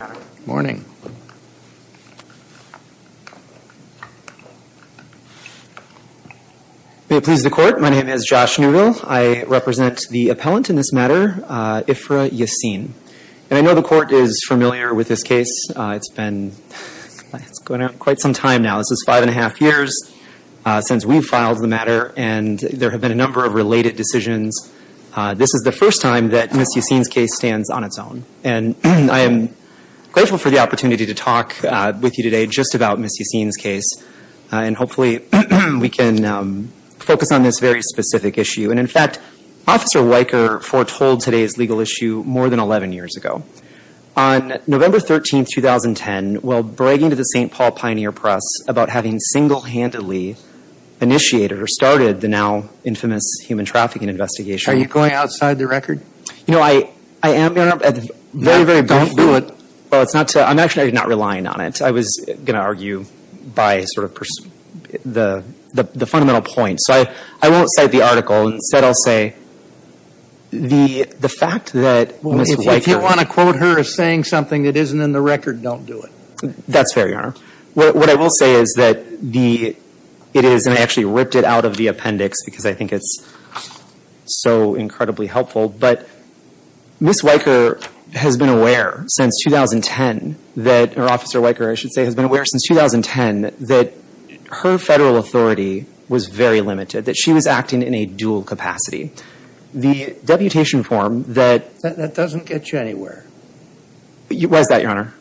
Good morning. May it please the court, my name is Josh Neuville. I represent the appellant in this matter, Ifrah Yassin. And I know the court is familiar with this case. It's been going on quite some time now. This is five and a half years since we filed the matter and there have been a number of related decisions. This is the first time that Ms. Yassin's case stands on its own. And I am grateful for the opportunity to talk with you today just about Ms. Yassin's case. And hopefully we can focus on this very specific issue. And in fact, Officer Weyker foretold today's legal issue more than 11 years ago. On November 13, 2010, while bragging to the St. Paul Pioneer Press about having single-handedly initiated or started the now infamous human trafficking investigation. Are you going outside the record? You know, I am, Your Honor, at the very, very brief moment. Don't do it. Well, it's not to, I'm actually not relying on it. I was going to argue by sort of the fundamental point. So I won't cite the article. Instead, I'll say the fact that Ms. Weyker If you want to quote her as saying something that isn't in the record, don't do it. That's fair, Your Honor. What I will say is that the, it is, and I actually ripped it out of the appendix because I think it's so incredibly helpful. But Ms. Weyker has been aware since 2010 that, or Officer Weyker, I should say, has been aware since 2010 that her federal authority was very limited. That she was acting in a dual capacity. The deputation form that That doesn't get you anywhere. Why is that, Your Honor?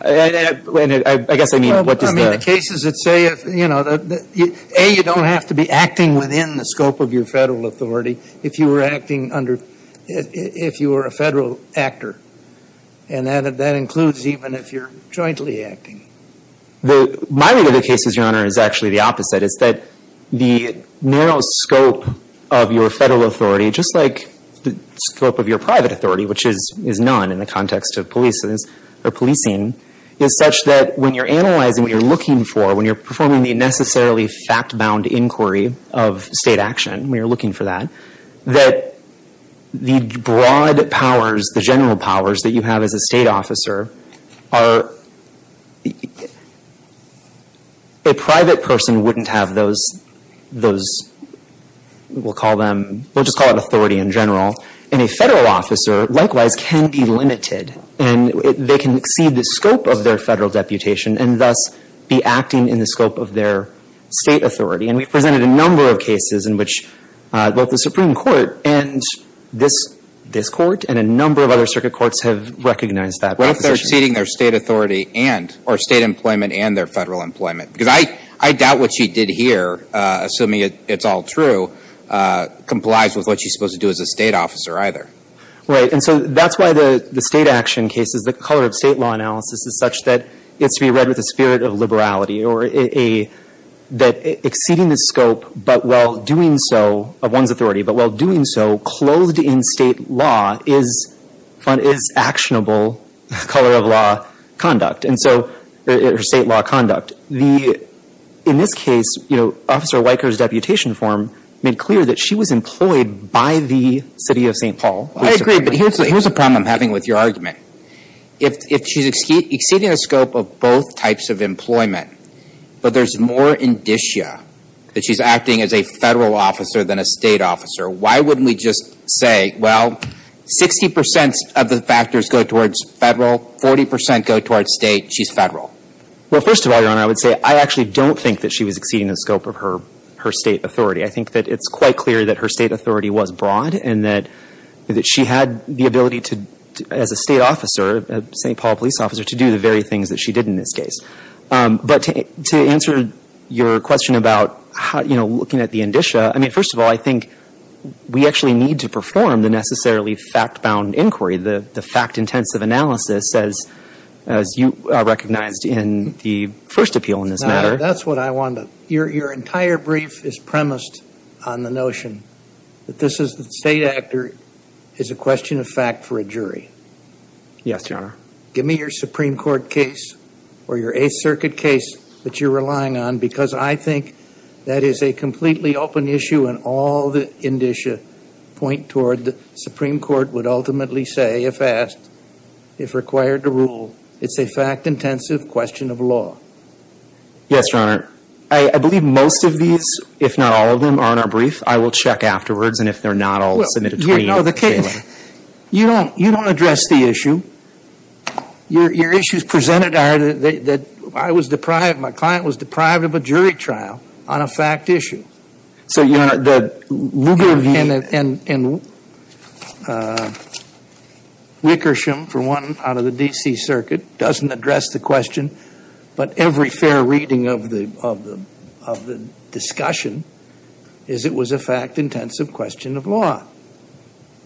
And I guess I mean, what does the In cases that say, you know, A, you don't have to be acting within the scope of your federal authority if you were acting under, if you were a federal actor. And that includes even if you're jointly acting. My view of the cases, Your Honor, is actually the opposite. It's that the narrow scope of your federal authority, just like the scope of your private authority, which is none in the context of policing, is such that when you're analyzing, what you're looking for, when you're performing the necessarily fact-bound inquiry of state action, when you're looking for that, that the broad powers, the general powers that you have as a state officer are, a private person wouldn't have those, we'll call them, we'll just call it authority in And they can exceed the scope of their federal deputation and thus be acting in the scope of their state authority. And we've presented a number of cases in which both the Supreme Court and this, this court, and a number of other circuit courts have recognized that proposition. Well, if they're exceeding their state authority and, or state employment and their federal employment. Because I, I doubt what she did here, assuming it's all true, complies with what she's supposed to do as a state officer either. Right. And so that's why the, the state action cases, the color of state law analysis is such that it's to be read with a spirit of liberality or a, that exceeding the scope, but while doing so, of one's authority, but while doing so, clothed in state law is actionable color of law conduct. And so, or state law conduct. The, in this case, you know, Officer I agree, but here's the, here's a problem I'm having with your argument. If, if she's exceeding the scope of both types of employment, but there's more indicia that she's acting as a federal officer than a state officer, why wouldn't we just say, well, 60 percent of the factors go towards federal, 40 percent go towards state, she's federal? Well, first of all, Your Honor, I would say I actually don't think that she was exceeding the scope of her, her state authority. I think that it's quite clear that her state authority was broad and that, that she had the ability to, as a state officer, St. Paul police officer, to do the very things that she did in this case. But to answer your question about how, you know, looking at the indicia, I mean, first of all, I think we actually need to perform the necessarily fact-bound inquiry, the, the fact-intensive analysis as, as you recognized in the first appeal in this matter. That's what I want to, your, your entire brief is premised on the notion that this is, the state actor is a question of fact for a jury. Yes, Your Honor. Give me your Supreme Court case or your Eighth Circuit case that you're relying on because I think that is a completely open issue and all the indicia point toward the Supreme Court would ultimately say, if asked, if required to rule, it's a fact-intensive question of law. Yes, Your Honor. I, I believe most of these, if not all of them, are in our brief. I will check afterwards and if they're not, I'll submit a twenty-eighth statement. Well, you know, the case, you don't, you don't address the issue. Your, your issues presented are that, that I was deprived, my client was deprived of a jury trial on a fact issue. So, Your Honor, the Lugar v. And, and, and Wickersham, for one, out of the D.C. Circuit doesn't address the question, but every fair reading of the, of the, of the discussion is it was a fact-intensive question of law.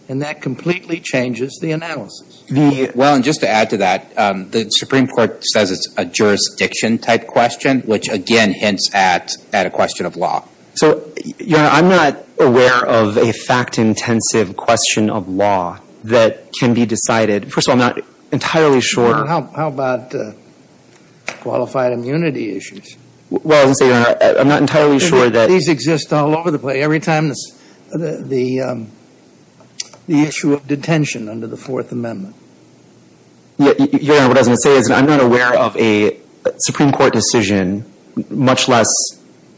And that completely changes the analysis. The, well, and just to add to that, the Supreme Court says it's a jurisdiction-type question, which again hints at, at a question of law. So, Your Honor, I'm not aware of a fact-intensive question of law that can be decided. First of all, I'm not entirely sure. Well, how, how about qualified immunity issues? Well, as I say, Your Honor, I'm not entirely sure that These exist all over the place. Every time the, the, the issue of detention under the Fourth Amendment. Your Honor, what I was going to say is I'm not aware of a Supreme Court decision, much less,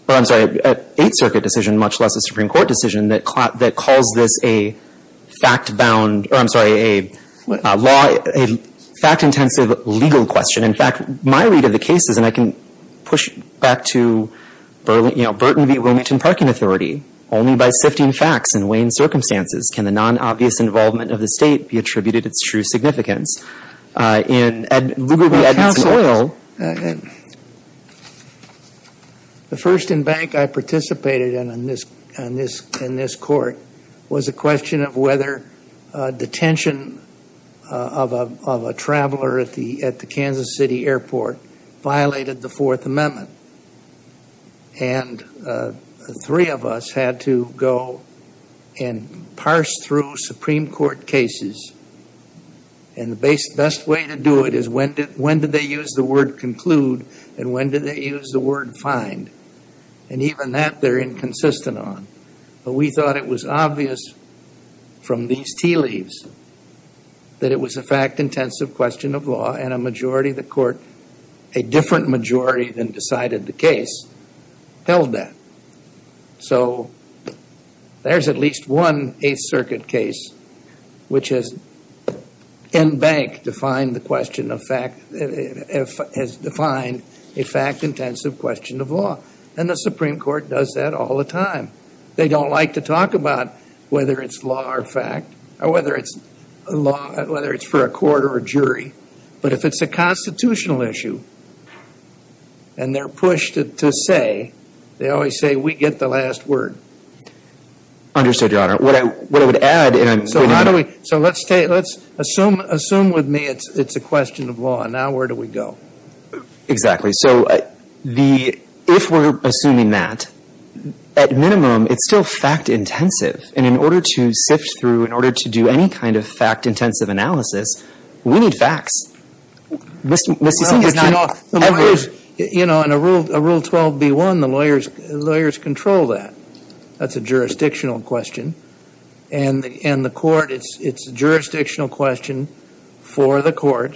or I'm sorry, an Eighth Circuit decision, much less a Supreme Court decision that, that calls this a fact-bound, or I'm sorry, a law, a fact-intensive legal question. In fact, my read of the case is, and I can push back to, you know, Burton v. Wilmington Parking Authority, only by sifting facts and weighing circumstances can the non-obvious involvement of the state be attributed its true significance. The first embankment I participated in, in this, in this Court, was a question of whether detention of a, of a traveler at the, at the Kansas City Airport violated the Fourth Amendment. And the three of us had to go and parse through Supreme Court cases. And the best way to do it is when did, when did they use the word conclude and when did they use the word find? And even that they're inconsistent on. But we thought it was obvious from these tea leaves that it was a fact-intensive question of law and a majority of the Court, a different majority than decided the case, held that. So there's at least one Eighth Circuit case which has embanked, defined the question of fact, has defined a fact-intensive question of law. And the Supreme Court does that all the time. They don't like to talk about whether it's law or fact or whether it's law, whether it's for a court or a jury. But if it's a constitutional issue and they're pushed to say, they always say, we get the last word. Understood, Your Honor. What I, what I would add, and I'm going to... So how do we, so let's take, let's assume, assume with me it's, it's a question of law. Now where do we go? Exactly. So the, if we're assuming that, at minimum, it's still fact-intensive. And in order to sift through, in order to do any kind of fact-intensive analysis, we need facts. Mr. Sink, it's not... You know, in a rule, a Rule 12b-1, the lawyers, the lawyers control that. That's a jurisdictional question. And the, and the court, it's, it's a jurisdictional question for the court.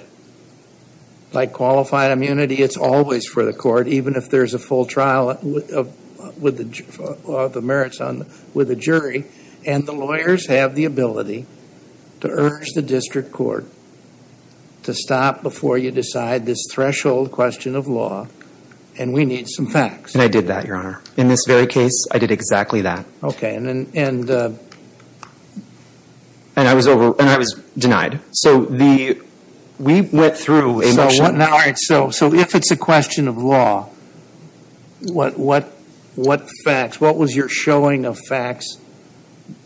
Like qualified immunity, it's always for the court, even if there's a full trial of, of, with the, of the merits on, with the jury. And the lawyers have the ability to urge the district court to stop before you decide this threshold question of law. And we need some facts. And I did that, Your Honor. In this very case, I did exactly that. Okay. And, and... And I was over, and I was denied. So the, we went through a motion... So, now, all right, so, so if it's a question of law, what, what, what facts, what was your showing of facts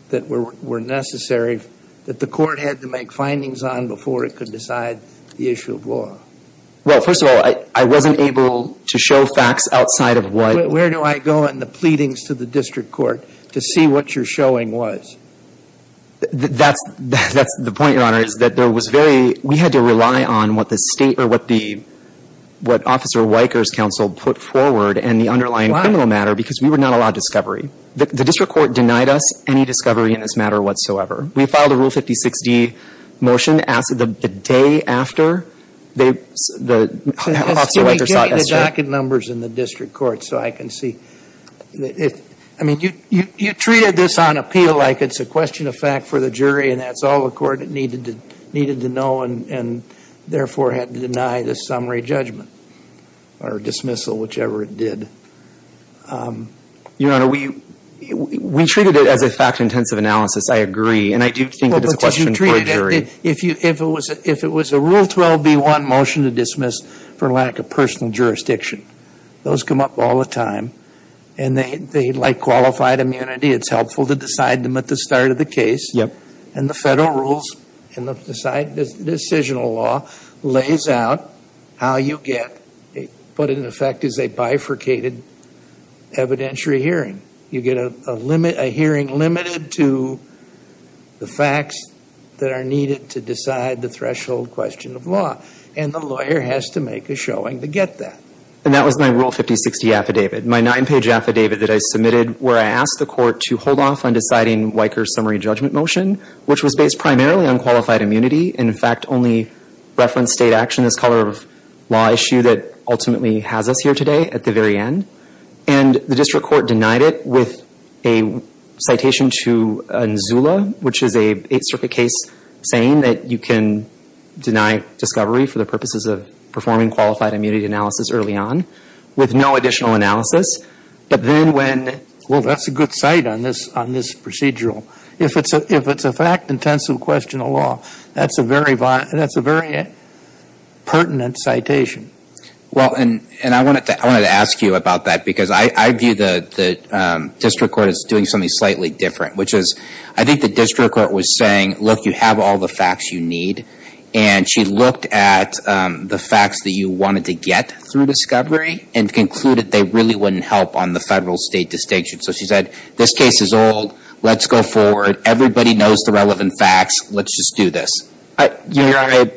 that were, were necessary, that the court had to make findings on before it could decide the issue of law? Well, first of all, I, I wasn't able to show facts outside of what... Where do I go in the pleadings to the district court to see what your showing was? That's, that's the point, Your Honor, is that there was very, we had to rely on what the state or what the, what Officer Weicker's counsel put forward and the underlying criminal matter... The, the district court denied us any discovery in this matter whatsoever. We filed a Rule 56-D motion, asked that the day after, they, the, Officer Weicker sought... Can we get you the docket numbers in the district court so I can see? It, I mean, you, you, you treated this on appeal like it's a question of fact for the jury and that's all the court needed to, needed to know and, and therefore had to deny this summary judgment or dismissal, whichever it did. Um, Your Honor, we, we treated it as a fact-intensive analysis, I agree, and I do think it's a question Well, but did you treat it, if you, if it was, if it was a Rule 12-B-1 motion to dismiss for lack of personal jurisdiction, those come up all the time and they, they, like qualified immunity, it's helpful to decide them at the start of the case. Yep. And the federal rules and the side decisional law lays out how you get what in effect is a bifurcated evidentiary hearing. You get a, a limit, a hearing limited to the facts that are needed to decide the threshold question of law. And the lawyer has to make a showing to get that. And that was my Rule 50-60 affidavit, my nine-page affidavit that I submitted where I asked the court to hold off on deciding Weicker's summary judgment motion, which was based primarily on qualified immunity, and in fact only referenced state action, this color of law issue that ultimately has us here today at the very end. And the district court denied it with a citation to NZULA, which is a Eighth Circuit case, saying that you can deny discovery for the purposes of performing qualified immunity analysis early on with no additional analysis. But then when Well, that's a good site on this, on this procedural. If it's a, if it's a fact-intensive question of law, that's a very, that's a very pertinent citation. Well, and, and I wanted to, I wanted to ask you about that, because I, I view the, the district court as doing something slightly different, which is, I think the district court was saying, look, you have all the facts you need. And she looked at the facts that you wanted to get through discovery and concluded they really wouldn't help on the federal state distinction. So she said, this case is old. Let's go forward. Everybody knows the relevant facts. Let's just do this. You're right.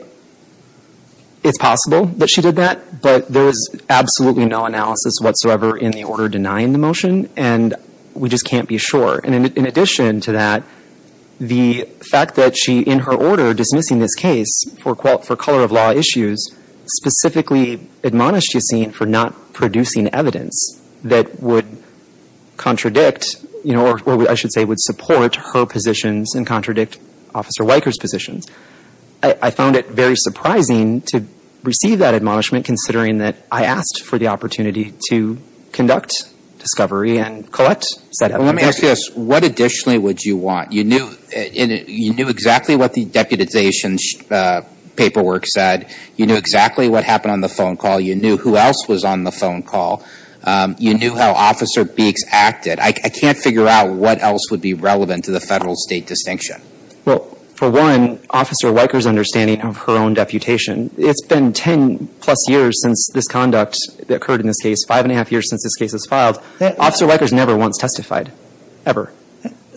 It's possible that she did that. But there is absolutely no analysis whatsoever in the order denying the motion. And we just can't be sure. And in addition to that, the fact that she, in her order dismissing this case for, for color of law issues, specifically admonished Yassine for not producing evidence that would contradict, you know, or I should say, would support her positions and contradict Officer Weicker's positions. I found it very surprising to receive that admonishment, considering that I asked for the opportunity to conduct discovery and collect said evidence. Let me ask you this. What additionally would you want? You knew, you knew exactly what the deputization paperwork said. You knew exactly what happened on the phone call. You knew who else was on the phone call. You knew how Officer Beeks acted. I, I can't figure out what else would be relevant to the federal state distinction. Well, for one, Officer Weicker's understanding of her own deputation, it's been ten plus years since this conduct occurred in this case, five and a half years since this case was filed. Officer Weicker's never once testified. Ever.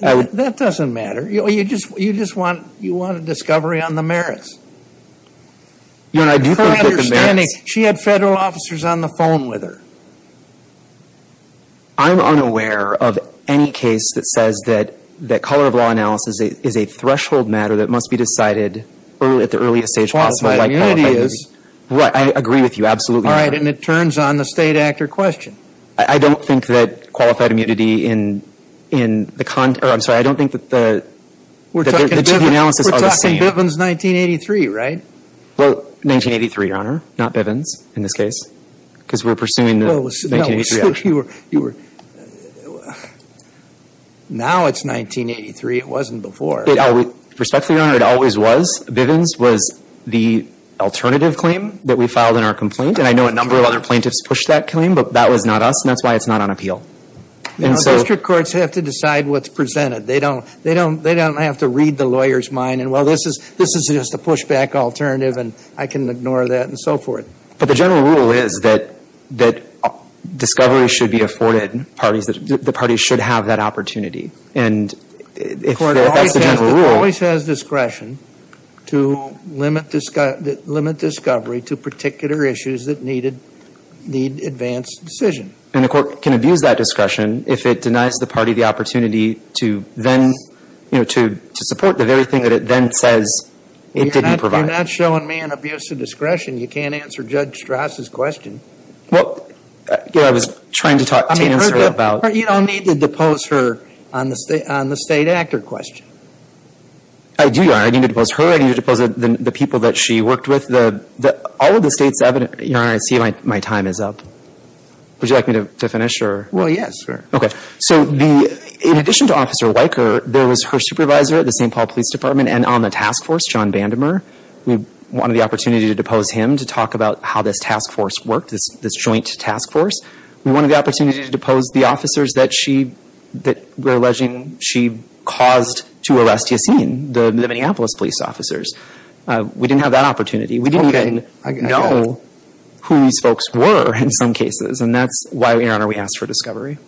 That doesn't matter. You know, you just, you just want, you want a discovery on the merits. Your Honor, I do think that the merits... Her understanding, she had federal officers on the phone with her. I'm unaware of any case that says that, that color of law analysis is a, is a threshold matter that must be decided early, at the earliest stage possible, like qualified immunity is. Right. I agree with you. Absolutely. All right. And it turns on the state actor question. I don't think that qualified immunity in, in the, I'm sorry, I don't think that the, that the analysis are the same. We're talking Bivens 1983, right? Well, 1983, Your Honor, not Bivens in this case, because we're pursuing the 1983. You were, you were, now it's 1983. It wasn't before. It always, respectfully, Your Honor, it always was. Bivens was the alternative claim that we filed in our complaint. And I know a number of other plaintiffs pushed that claim, but that was not us. And that's why it's not on appeal. And so... District courts have to decide what's presented. They don't, they don't, they don't have to read the lawyer's mind. And, well, this is, this is just a pushback alternative, and I can ignore that, and so forth. But the general rule is that, that discovery should be afforded parties, that the parties should have that opportunity. And if that's the general rule... The court always has discretion to limit discovery to particular issues that needed, need advanced decision. And the court can abuse that discretion if it denies the party the opportunity to then, you know, to, to support the very thing that it then says it didn't provide. You're not, you're not showing me an abuse of discretion. You can't answer Judge Strass' question. Well, you know, I was trying to talk, to answer about... I mean, you don't need to depose her on the state, on the state actor question. I do, Your Honor. I need to depose her. I need to depose the people that she worked with. The, the, all of the state's evidence, Your Honor, I see my, my time is up. Would you like me to, to finish, or? Well, yes, sir. Okay. So the, in addition to Officer Weicker, there was her supervisor at the St. Paul Police Department and on the task force, John Vandemer. We wanted the opportunity to depose him to talk about how this task force worked, this, this joint task force. We wanted the opportunity to depose the officers that she, that we're alleging she caused to arrest Yassine, the, the Minneapolis police officers. We didn't have that opportunity. We didn't even know who these folks were in some cases. And that's why, Your Honor, we asked for discovery.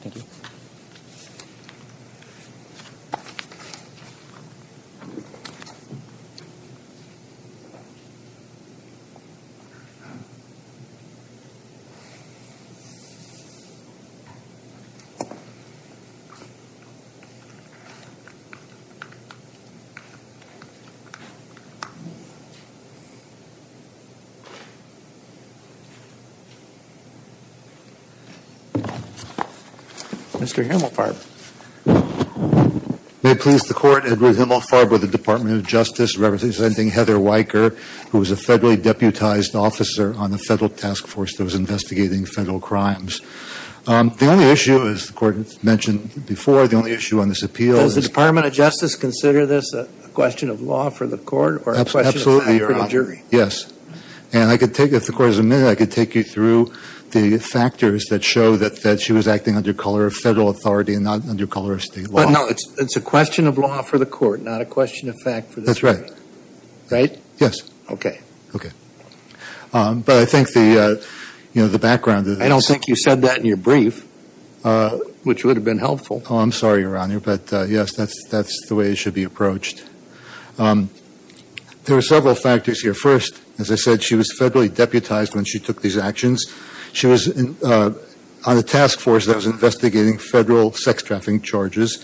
Thank you. Mr. Himmelfarb. May it please the court, Edward Himmelfarb with the Department of Justice representing Heather Weicker, who was a federally deputized officer on the federal task force that was investigating federal crimes. The only issue, as the court mentioned before, the only issue on this appeal is. Does the Department of Justice consider this a question of law for the court? Absolutely, Your Honor. Or a question of fact for the jury? Yes. And I could take, if the court is a minute, I could take you through this. I could take you through the factors that show that, that she was acting under color of federal authority and not under color of state law. But no, it's, it's a question of law for the court, not a question of fact for the jury. That's right. Right? Yes. Okay. Okay. But I think the, you know, the background. I don't think you said that in your brief, which would have been helpful. Oh, I'm sorry, Your Honor. But yes, that's, that's the way it should be approached. There are several factors here. First, as I said, she was federally deputized when she took these actions. She was on a task force that was investigating federal sex trafficking charges.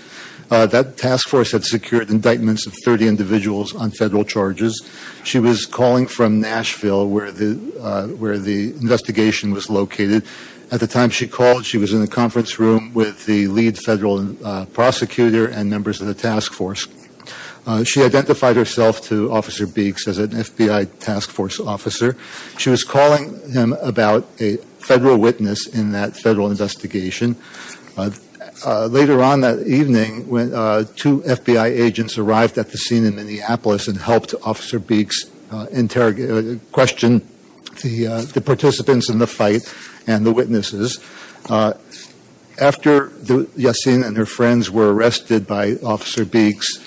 That task force had secured indictments of 30 individuals on federal charges. She was calling from Nashville, where the, where the investigation was located. At the time she called, she was in the conference room with the lead federal prosecutor and members of the task force. She identified herself to Officer Beeks as an FBI task force officer. She was calling him about a federal witness in that federal investigation. Later on that evening, two FBI agents arrived at the scene in Minneapolis and helped Officer Beeks interrogate, question the participants in the fight and the witnesses. After Yassine and her friends were arrested by Officer Beeks,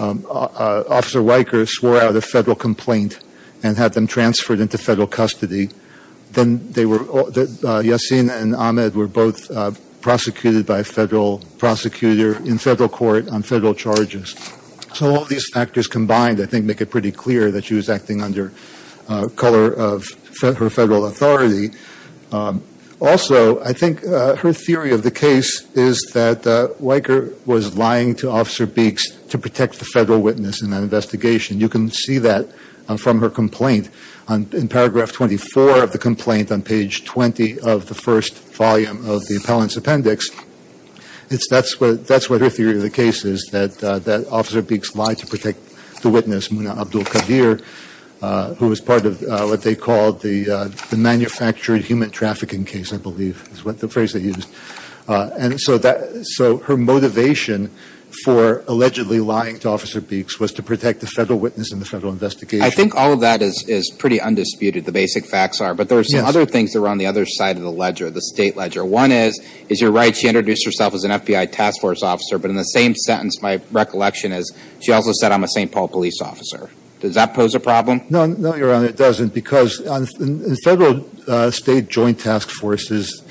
Officer Weicker swore out a federal complaint and had them transferred into federal custody. Then they were, Yassine and Ahmed were both prosecuted by a federal prosecutor in federal court on federal charges. So all these factors combined, I think, make it pretty clear that she was acting under color of her federal authority. Also, I think her theory of the case is that Weicker was lying to Officer Beeks to protect the federal witness in that investigation. You can see that from her complaint. In paragraph 24 of the complaint on page 20 of the first volume of the appellant's appendix, that's what her theory of the case is, that Officer Beeks lied to protect the witness, Muna Abdul-Qadir, who was part of what they called the manufactured human trafficking case, I believe is the phrase they used. So her motivation for allegedly lying to Officer Beeks was to protect the federal witness in the federal investigation. I think all of that is pretty undisputed, the basic facts are, but there are some other things that are on the other side of the ledger, the state ledger. One is, you're right, she introduced herself as an FBI task force officer, but in the same sentence, my recollection is she also said, I'm a St. Paul police officer. Does that pose a problem? No, Your Honor, it doesn't, because in federal state joint task forces,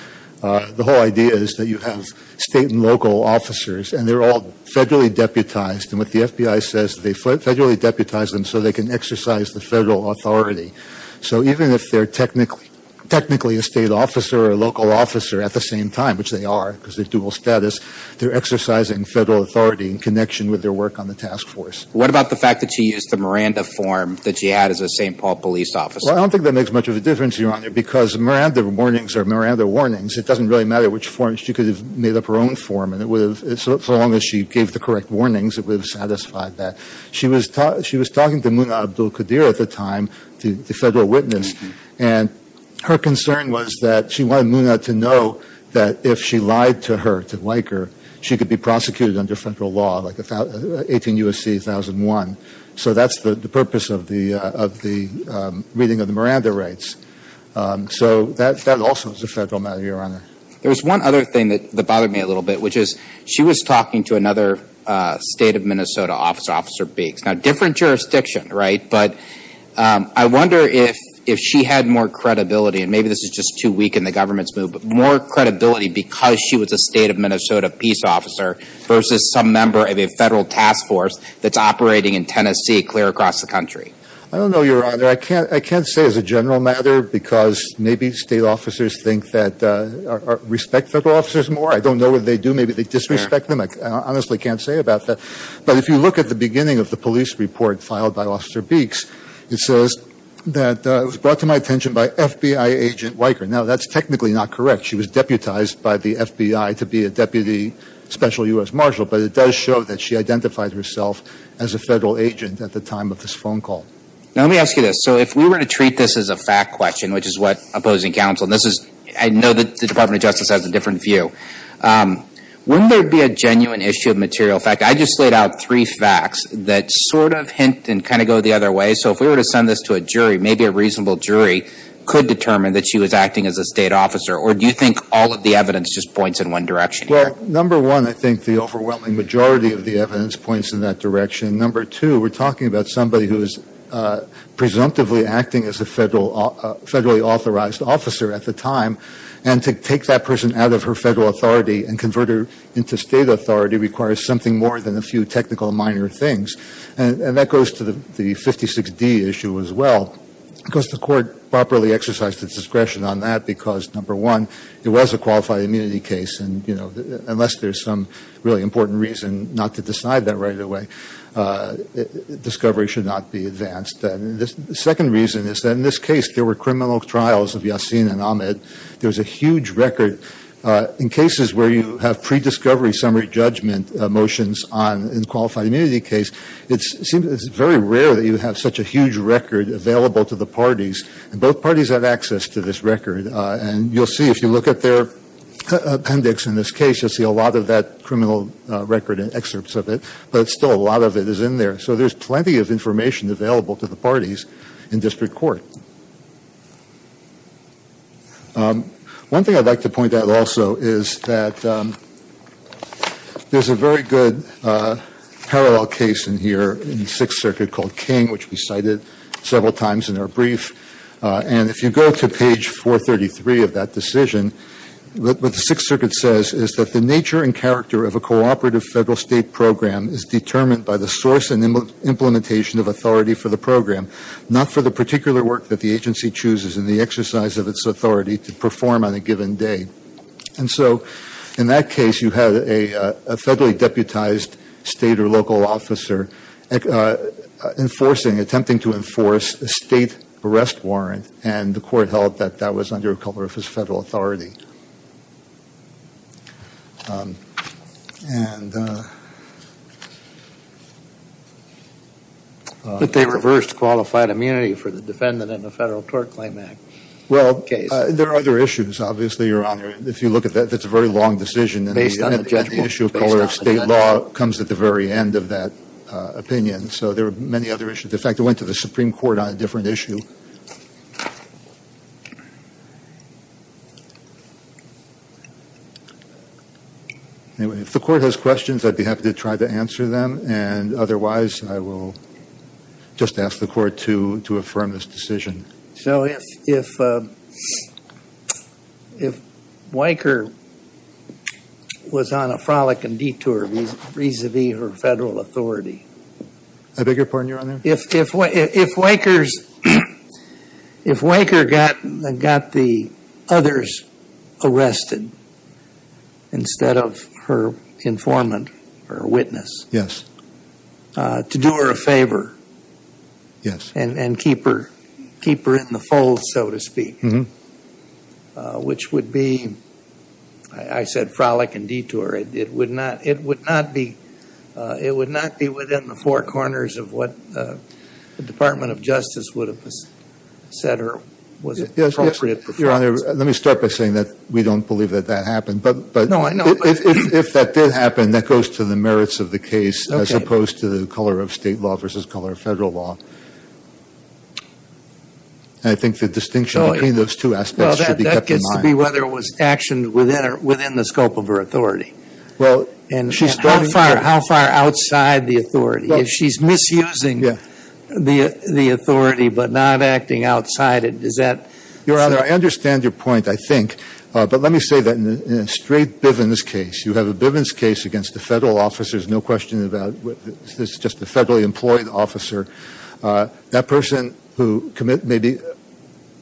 the whole idea is that you have state and local officers, and they're all federally deputized, and what the FBI says is they federally deputize them so they can exercise the federal authority. So even if they're technically a state officer or a local officer at the same time, which they are, because they're dual status, they're exercising federal authority in connection with their work on the task force. What about the fact that she used the Miranda form that she had as a St. Paul police officer? Well, I don't think that makes much of a difference, Your Honor, because Miranda warnings are Miranda warnings. It doesn't really matter which form, she could have made up her own form, and so long as she gave the correct warnings, it would have satisfied that. She was talking to Muna Abdul-Qadir at the time, the federal witness, and her concern was that she wanted Muna to know that if she lied to her, to Liker, she could be prosecuted under federal law, like 18 U.S.C. 1001. So that's the purpose of the reading of the Miranda rates. So that also is a federal matter, Your Honor. There's one other thing that bothered me a little bit, which is she was talking to another state of Minnesota officer, Officer Beeks. Now, different jurisdiction, right? But I wonder if she had more credibility, and maybe this is just too weak in the government's mood, but more credibility because she was a state of Minnesota peace officer versus some member of a federal task force that's operating in Tennessee clear across the country. I don't know, Your Honor. I can't say as a general matter because maybe state officers think that or respect federal officers more. I don't know whether they do. Maybe they disrespect them. I honestly can't say about that. But if you look at the beginning of the police report filed by Officer Beeks, it says that it was brought to my attention by FBI agent Liker. Now, that's technically not correct. She was deputized by the FBI to be a Deputy Special U.S. Marshal, but it does show that she identified herself as a federal agent at the time of this phone call. Now, let me ask you this. So if we were to treat this as a fact question, which is what opposing counsel, and I know that the Department of Justice has a different view, wouldn't there be a genuine issue of material fact? I just laid out three facts that sort of hint and kind of go the other way. So if we were to send this to a jury, maybe a reasonable jury could determine that she was acting as a state officer, or do you think all of the evidence just points in one direction here? Well, number one, I think the overwhelming majority of the evidence points in that direction. Number two, we're talking about somebody who is presumptively acting as a federally authorized officer at the time, and to take that person out of her federal authority and convert her into state authority requires something more than a few technical minor things. And that goes to the 56D issue as well, because the court properly exercised its discretion on that, because, number one, it was a qualified immunity case, and unless there's some really important reason not to decide that right away, discovery should not be advanced. The second reason is that in this case there were criminal trials of Yasin and Ahmed. There was a huge record. In cases where you have pre-discovery summary judgment motions in a qualified immunity case, it's very rare that you have such a huge record available to the parties, and both parties have access to this record. And you'll see, if you look at their appendix in this case, you'll see a lot of that criminal record and excerpts of it, but still a lot of it is in there. So there's plenty of information available to the parties in district court. One thing I'd like to point out also is that there's a very good parallel case in here in the Sixth Circuit called King, which we cited several times in our brief. And if you go to page 433 of that decision, what the Sixth Circuit says is that the nature and character of a cooperative federal state program is determined by the source and implementation of authority for the program, not for the particular work that the agency chooses and the exercise of its authority to perform on a given day. And so in that case you had a federally deputized state or local officer enforcing, attempting to enforce a state arrest warrant, and the court held that that was under a cover of his federal authority. But they reversed qualified immunity for the defendant in the Federal Tort Claim Act case. Well, there are other issues, obviously, Your Honor. If you look at that, that's a very long decision. Based on the judgment, based on the judgment. And the issue of color of state law comes at the very end of that opinion. So there are many other issues. In fact, it went to the Supreme Court on a different issue. If the court has questions, I'd be happy to try to answer them. And otherwise, I will just ask the court to affirm this decision. So if Weicker was on a frolicking detour vis-à-vis her federal authority. If Weicker got the others arrested instead of her informant or witness. Yes. To do her a favor. Yes. And keep her in the fold, so to speak. Which would be, I said frolic and detour. It would not be within the four corners of what the Department of Justice would have said or was appropriate. Your Honor, let me start by saying that we don't believe that that happened. No, I know. But if that did happen, that goes to the merits of the case. Okay. As opposed to the color of state law versus color of federal law. And I think the distinction between those two aspects should be kept in mind. It should be whether it was action within the scope of her authority. And how far outside the authority? If she's misusing the authority but not acting outside it, is that? Your Honor, I understand your point, I think. But let me say that in a straight Bivens case, you have a Bivens case against a federal officer. There's no question about it. This is just a federally employed officer. That person who committed maybe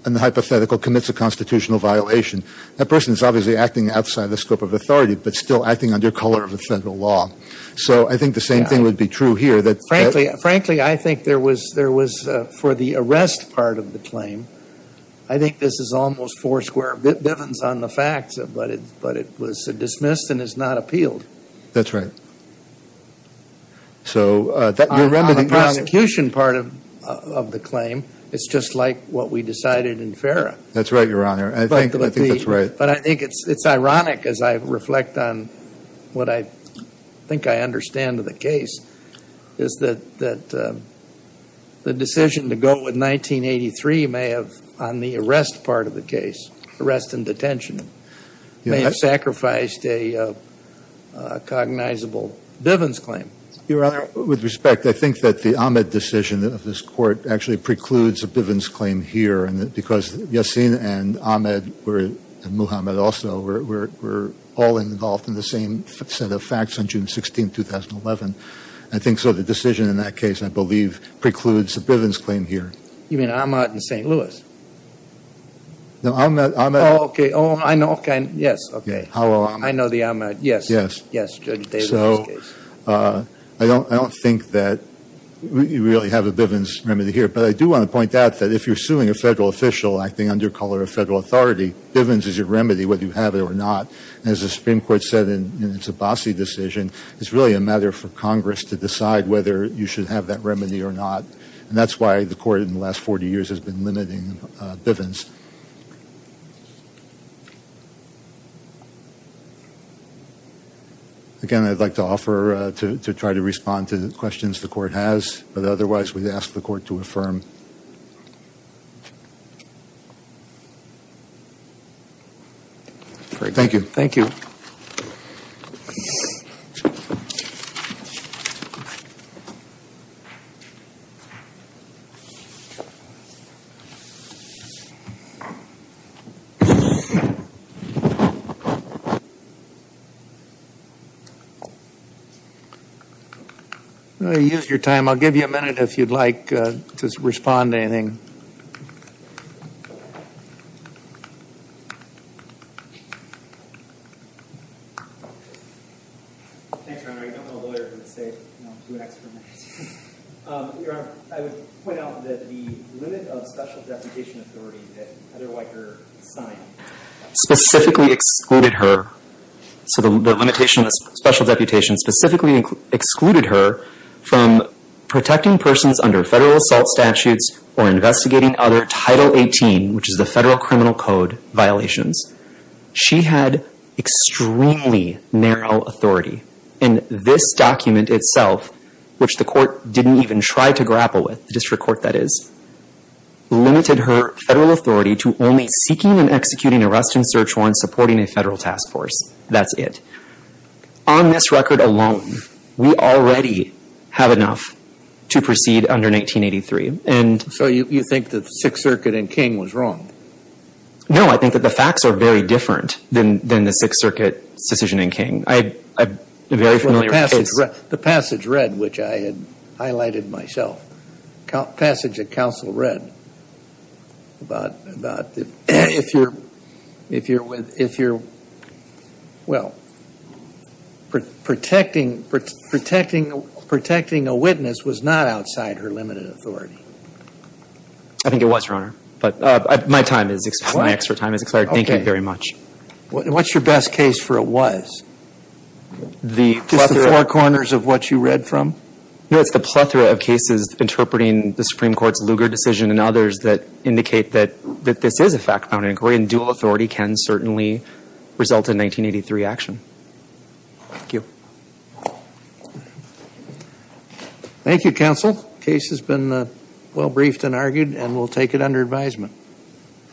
a hypothetical commits a constitutional violation. That person is obviously acting outside the scope of authority but still acting under color of the federal law. So I think the same thing would be true here. Frankly, I think there was for the arrest part of the claim, I think this is almost four square Bivens on the facts. But it was dismissed and is not appealed. That's right. On the prosecution part of the claim, it's just like what we decided in FARA. That's right, Your Honor. I think that's right. But I think it's ironic as I reflect on what I think I understand of the case, is that the decision to go with 1983 may have on the arrest part of the case, arrest and detention, may have sacrificed a cognizable Bivens claim. Your Honor, with respect, I think that the Ahmed decision of this court actually precludes a Bivens claim here because Yassin and Ahmed were, and Muhammad also, were all involved in the same set of facts on June 16, 2011. I think so the decision in that case, I believe, precludes a Bivens claim here. You mean Ahmed and St. Louis? No, Ahmed. Oh, okay. Oh, I know. Yes, okay. I know the Ahmed. Yes. Yes. So I don't think that you really have a Bivens remedy here, but I do want to point out that if you're suing a federal official acting under color of federal authority, Bivens is your remedy whether you have it or not. As the Supreme Court said in its Abbasi decision, it's really a matter for Congress to decide whether you should have that remedy or not, and that's why the court in the last 40 years has been limiting Bivens. Again, I'd like to offer to try to respond to questions the court has, but otherwise we'd ask the court to affirm. Thank you. Thank you. I'm going to use your time. I'll give you a minute if you'd like to respond to anything. Thanks, Your Honor. I don't want a lawyer to say, you know, do an experiment. Your Honor, I would point out that the limit of special deputation authority that Heather Weicker signed specifically excluded her. So the limitation of special deputation specifically excluded her from protecting persons under federal assault statutes or investigating other Title 18, which is the federal criminal code, violations. She had extremely narrow authority, and this document itself, which the court didn't even try to grapple with, the district court, that is, limited her federal authority to only seeking and executing arrest and search warrants supporting a federal task force. That's it. On this record alone, we already have enough to proceed under 1983. So you think that the Sixth Circuit in King was wrong? No, I think that the facts are very different than the Sixth Circuit decision in King. I have a very familiar case. The passage read, which I had highlighted myself, passage that counsel read about if you're, well, protecting a witness was not outside her limited authority. I think it was, Your Honor. But my time is, my extra time is expired. Thank you very much. What's your best case for a was? Just the four corners of what you read from? No, it's the plethora of cases interpreting the Supreme Court's Lugar decision and others that indicate that this is a fact-bound inquiry, and dual authority can certainly result in 1983 action. Thank you. Thank you, counsel. The case has been well briefed and argued, and we'll take it under advisement.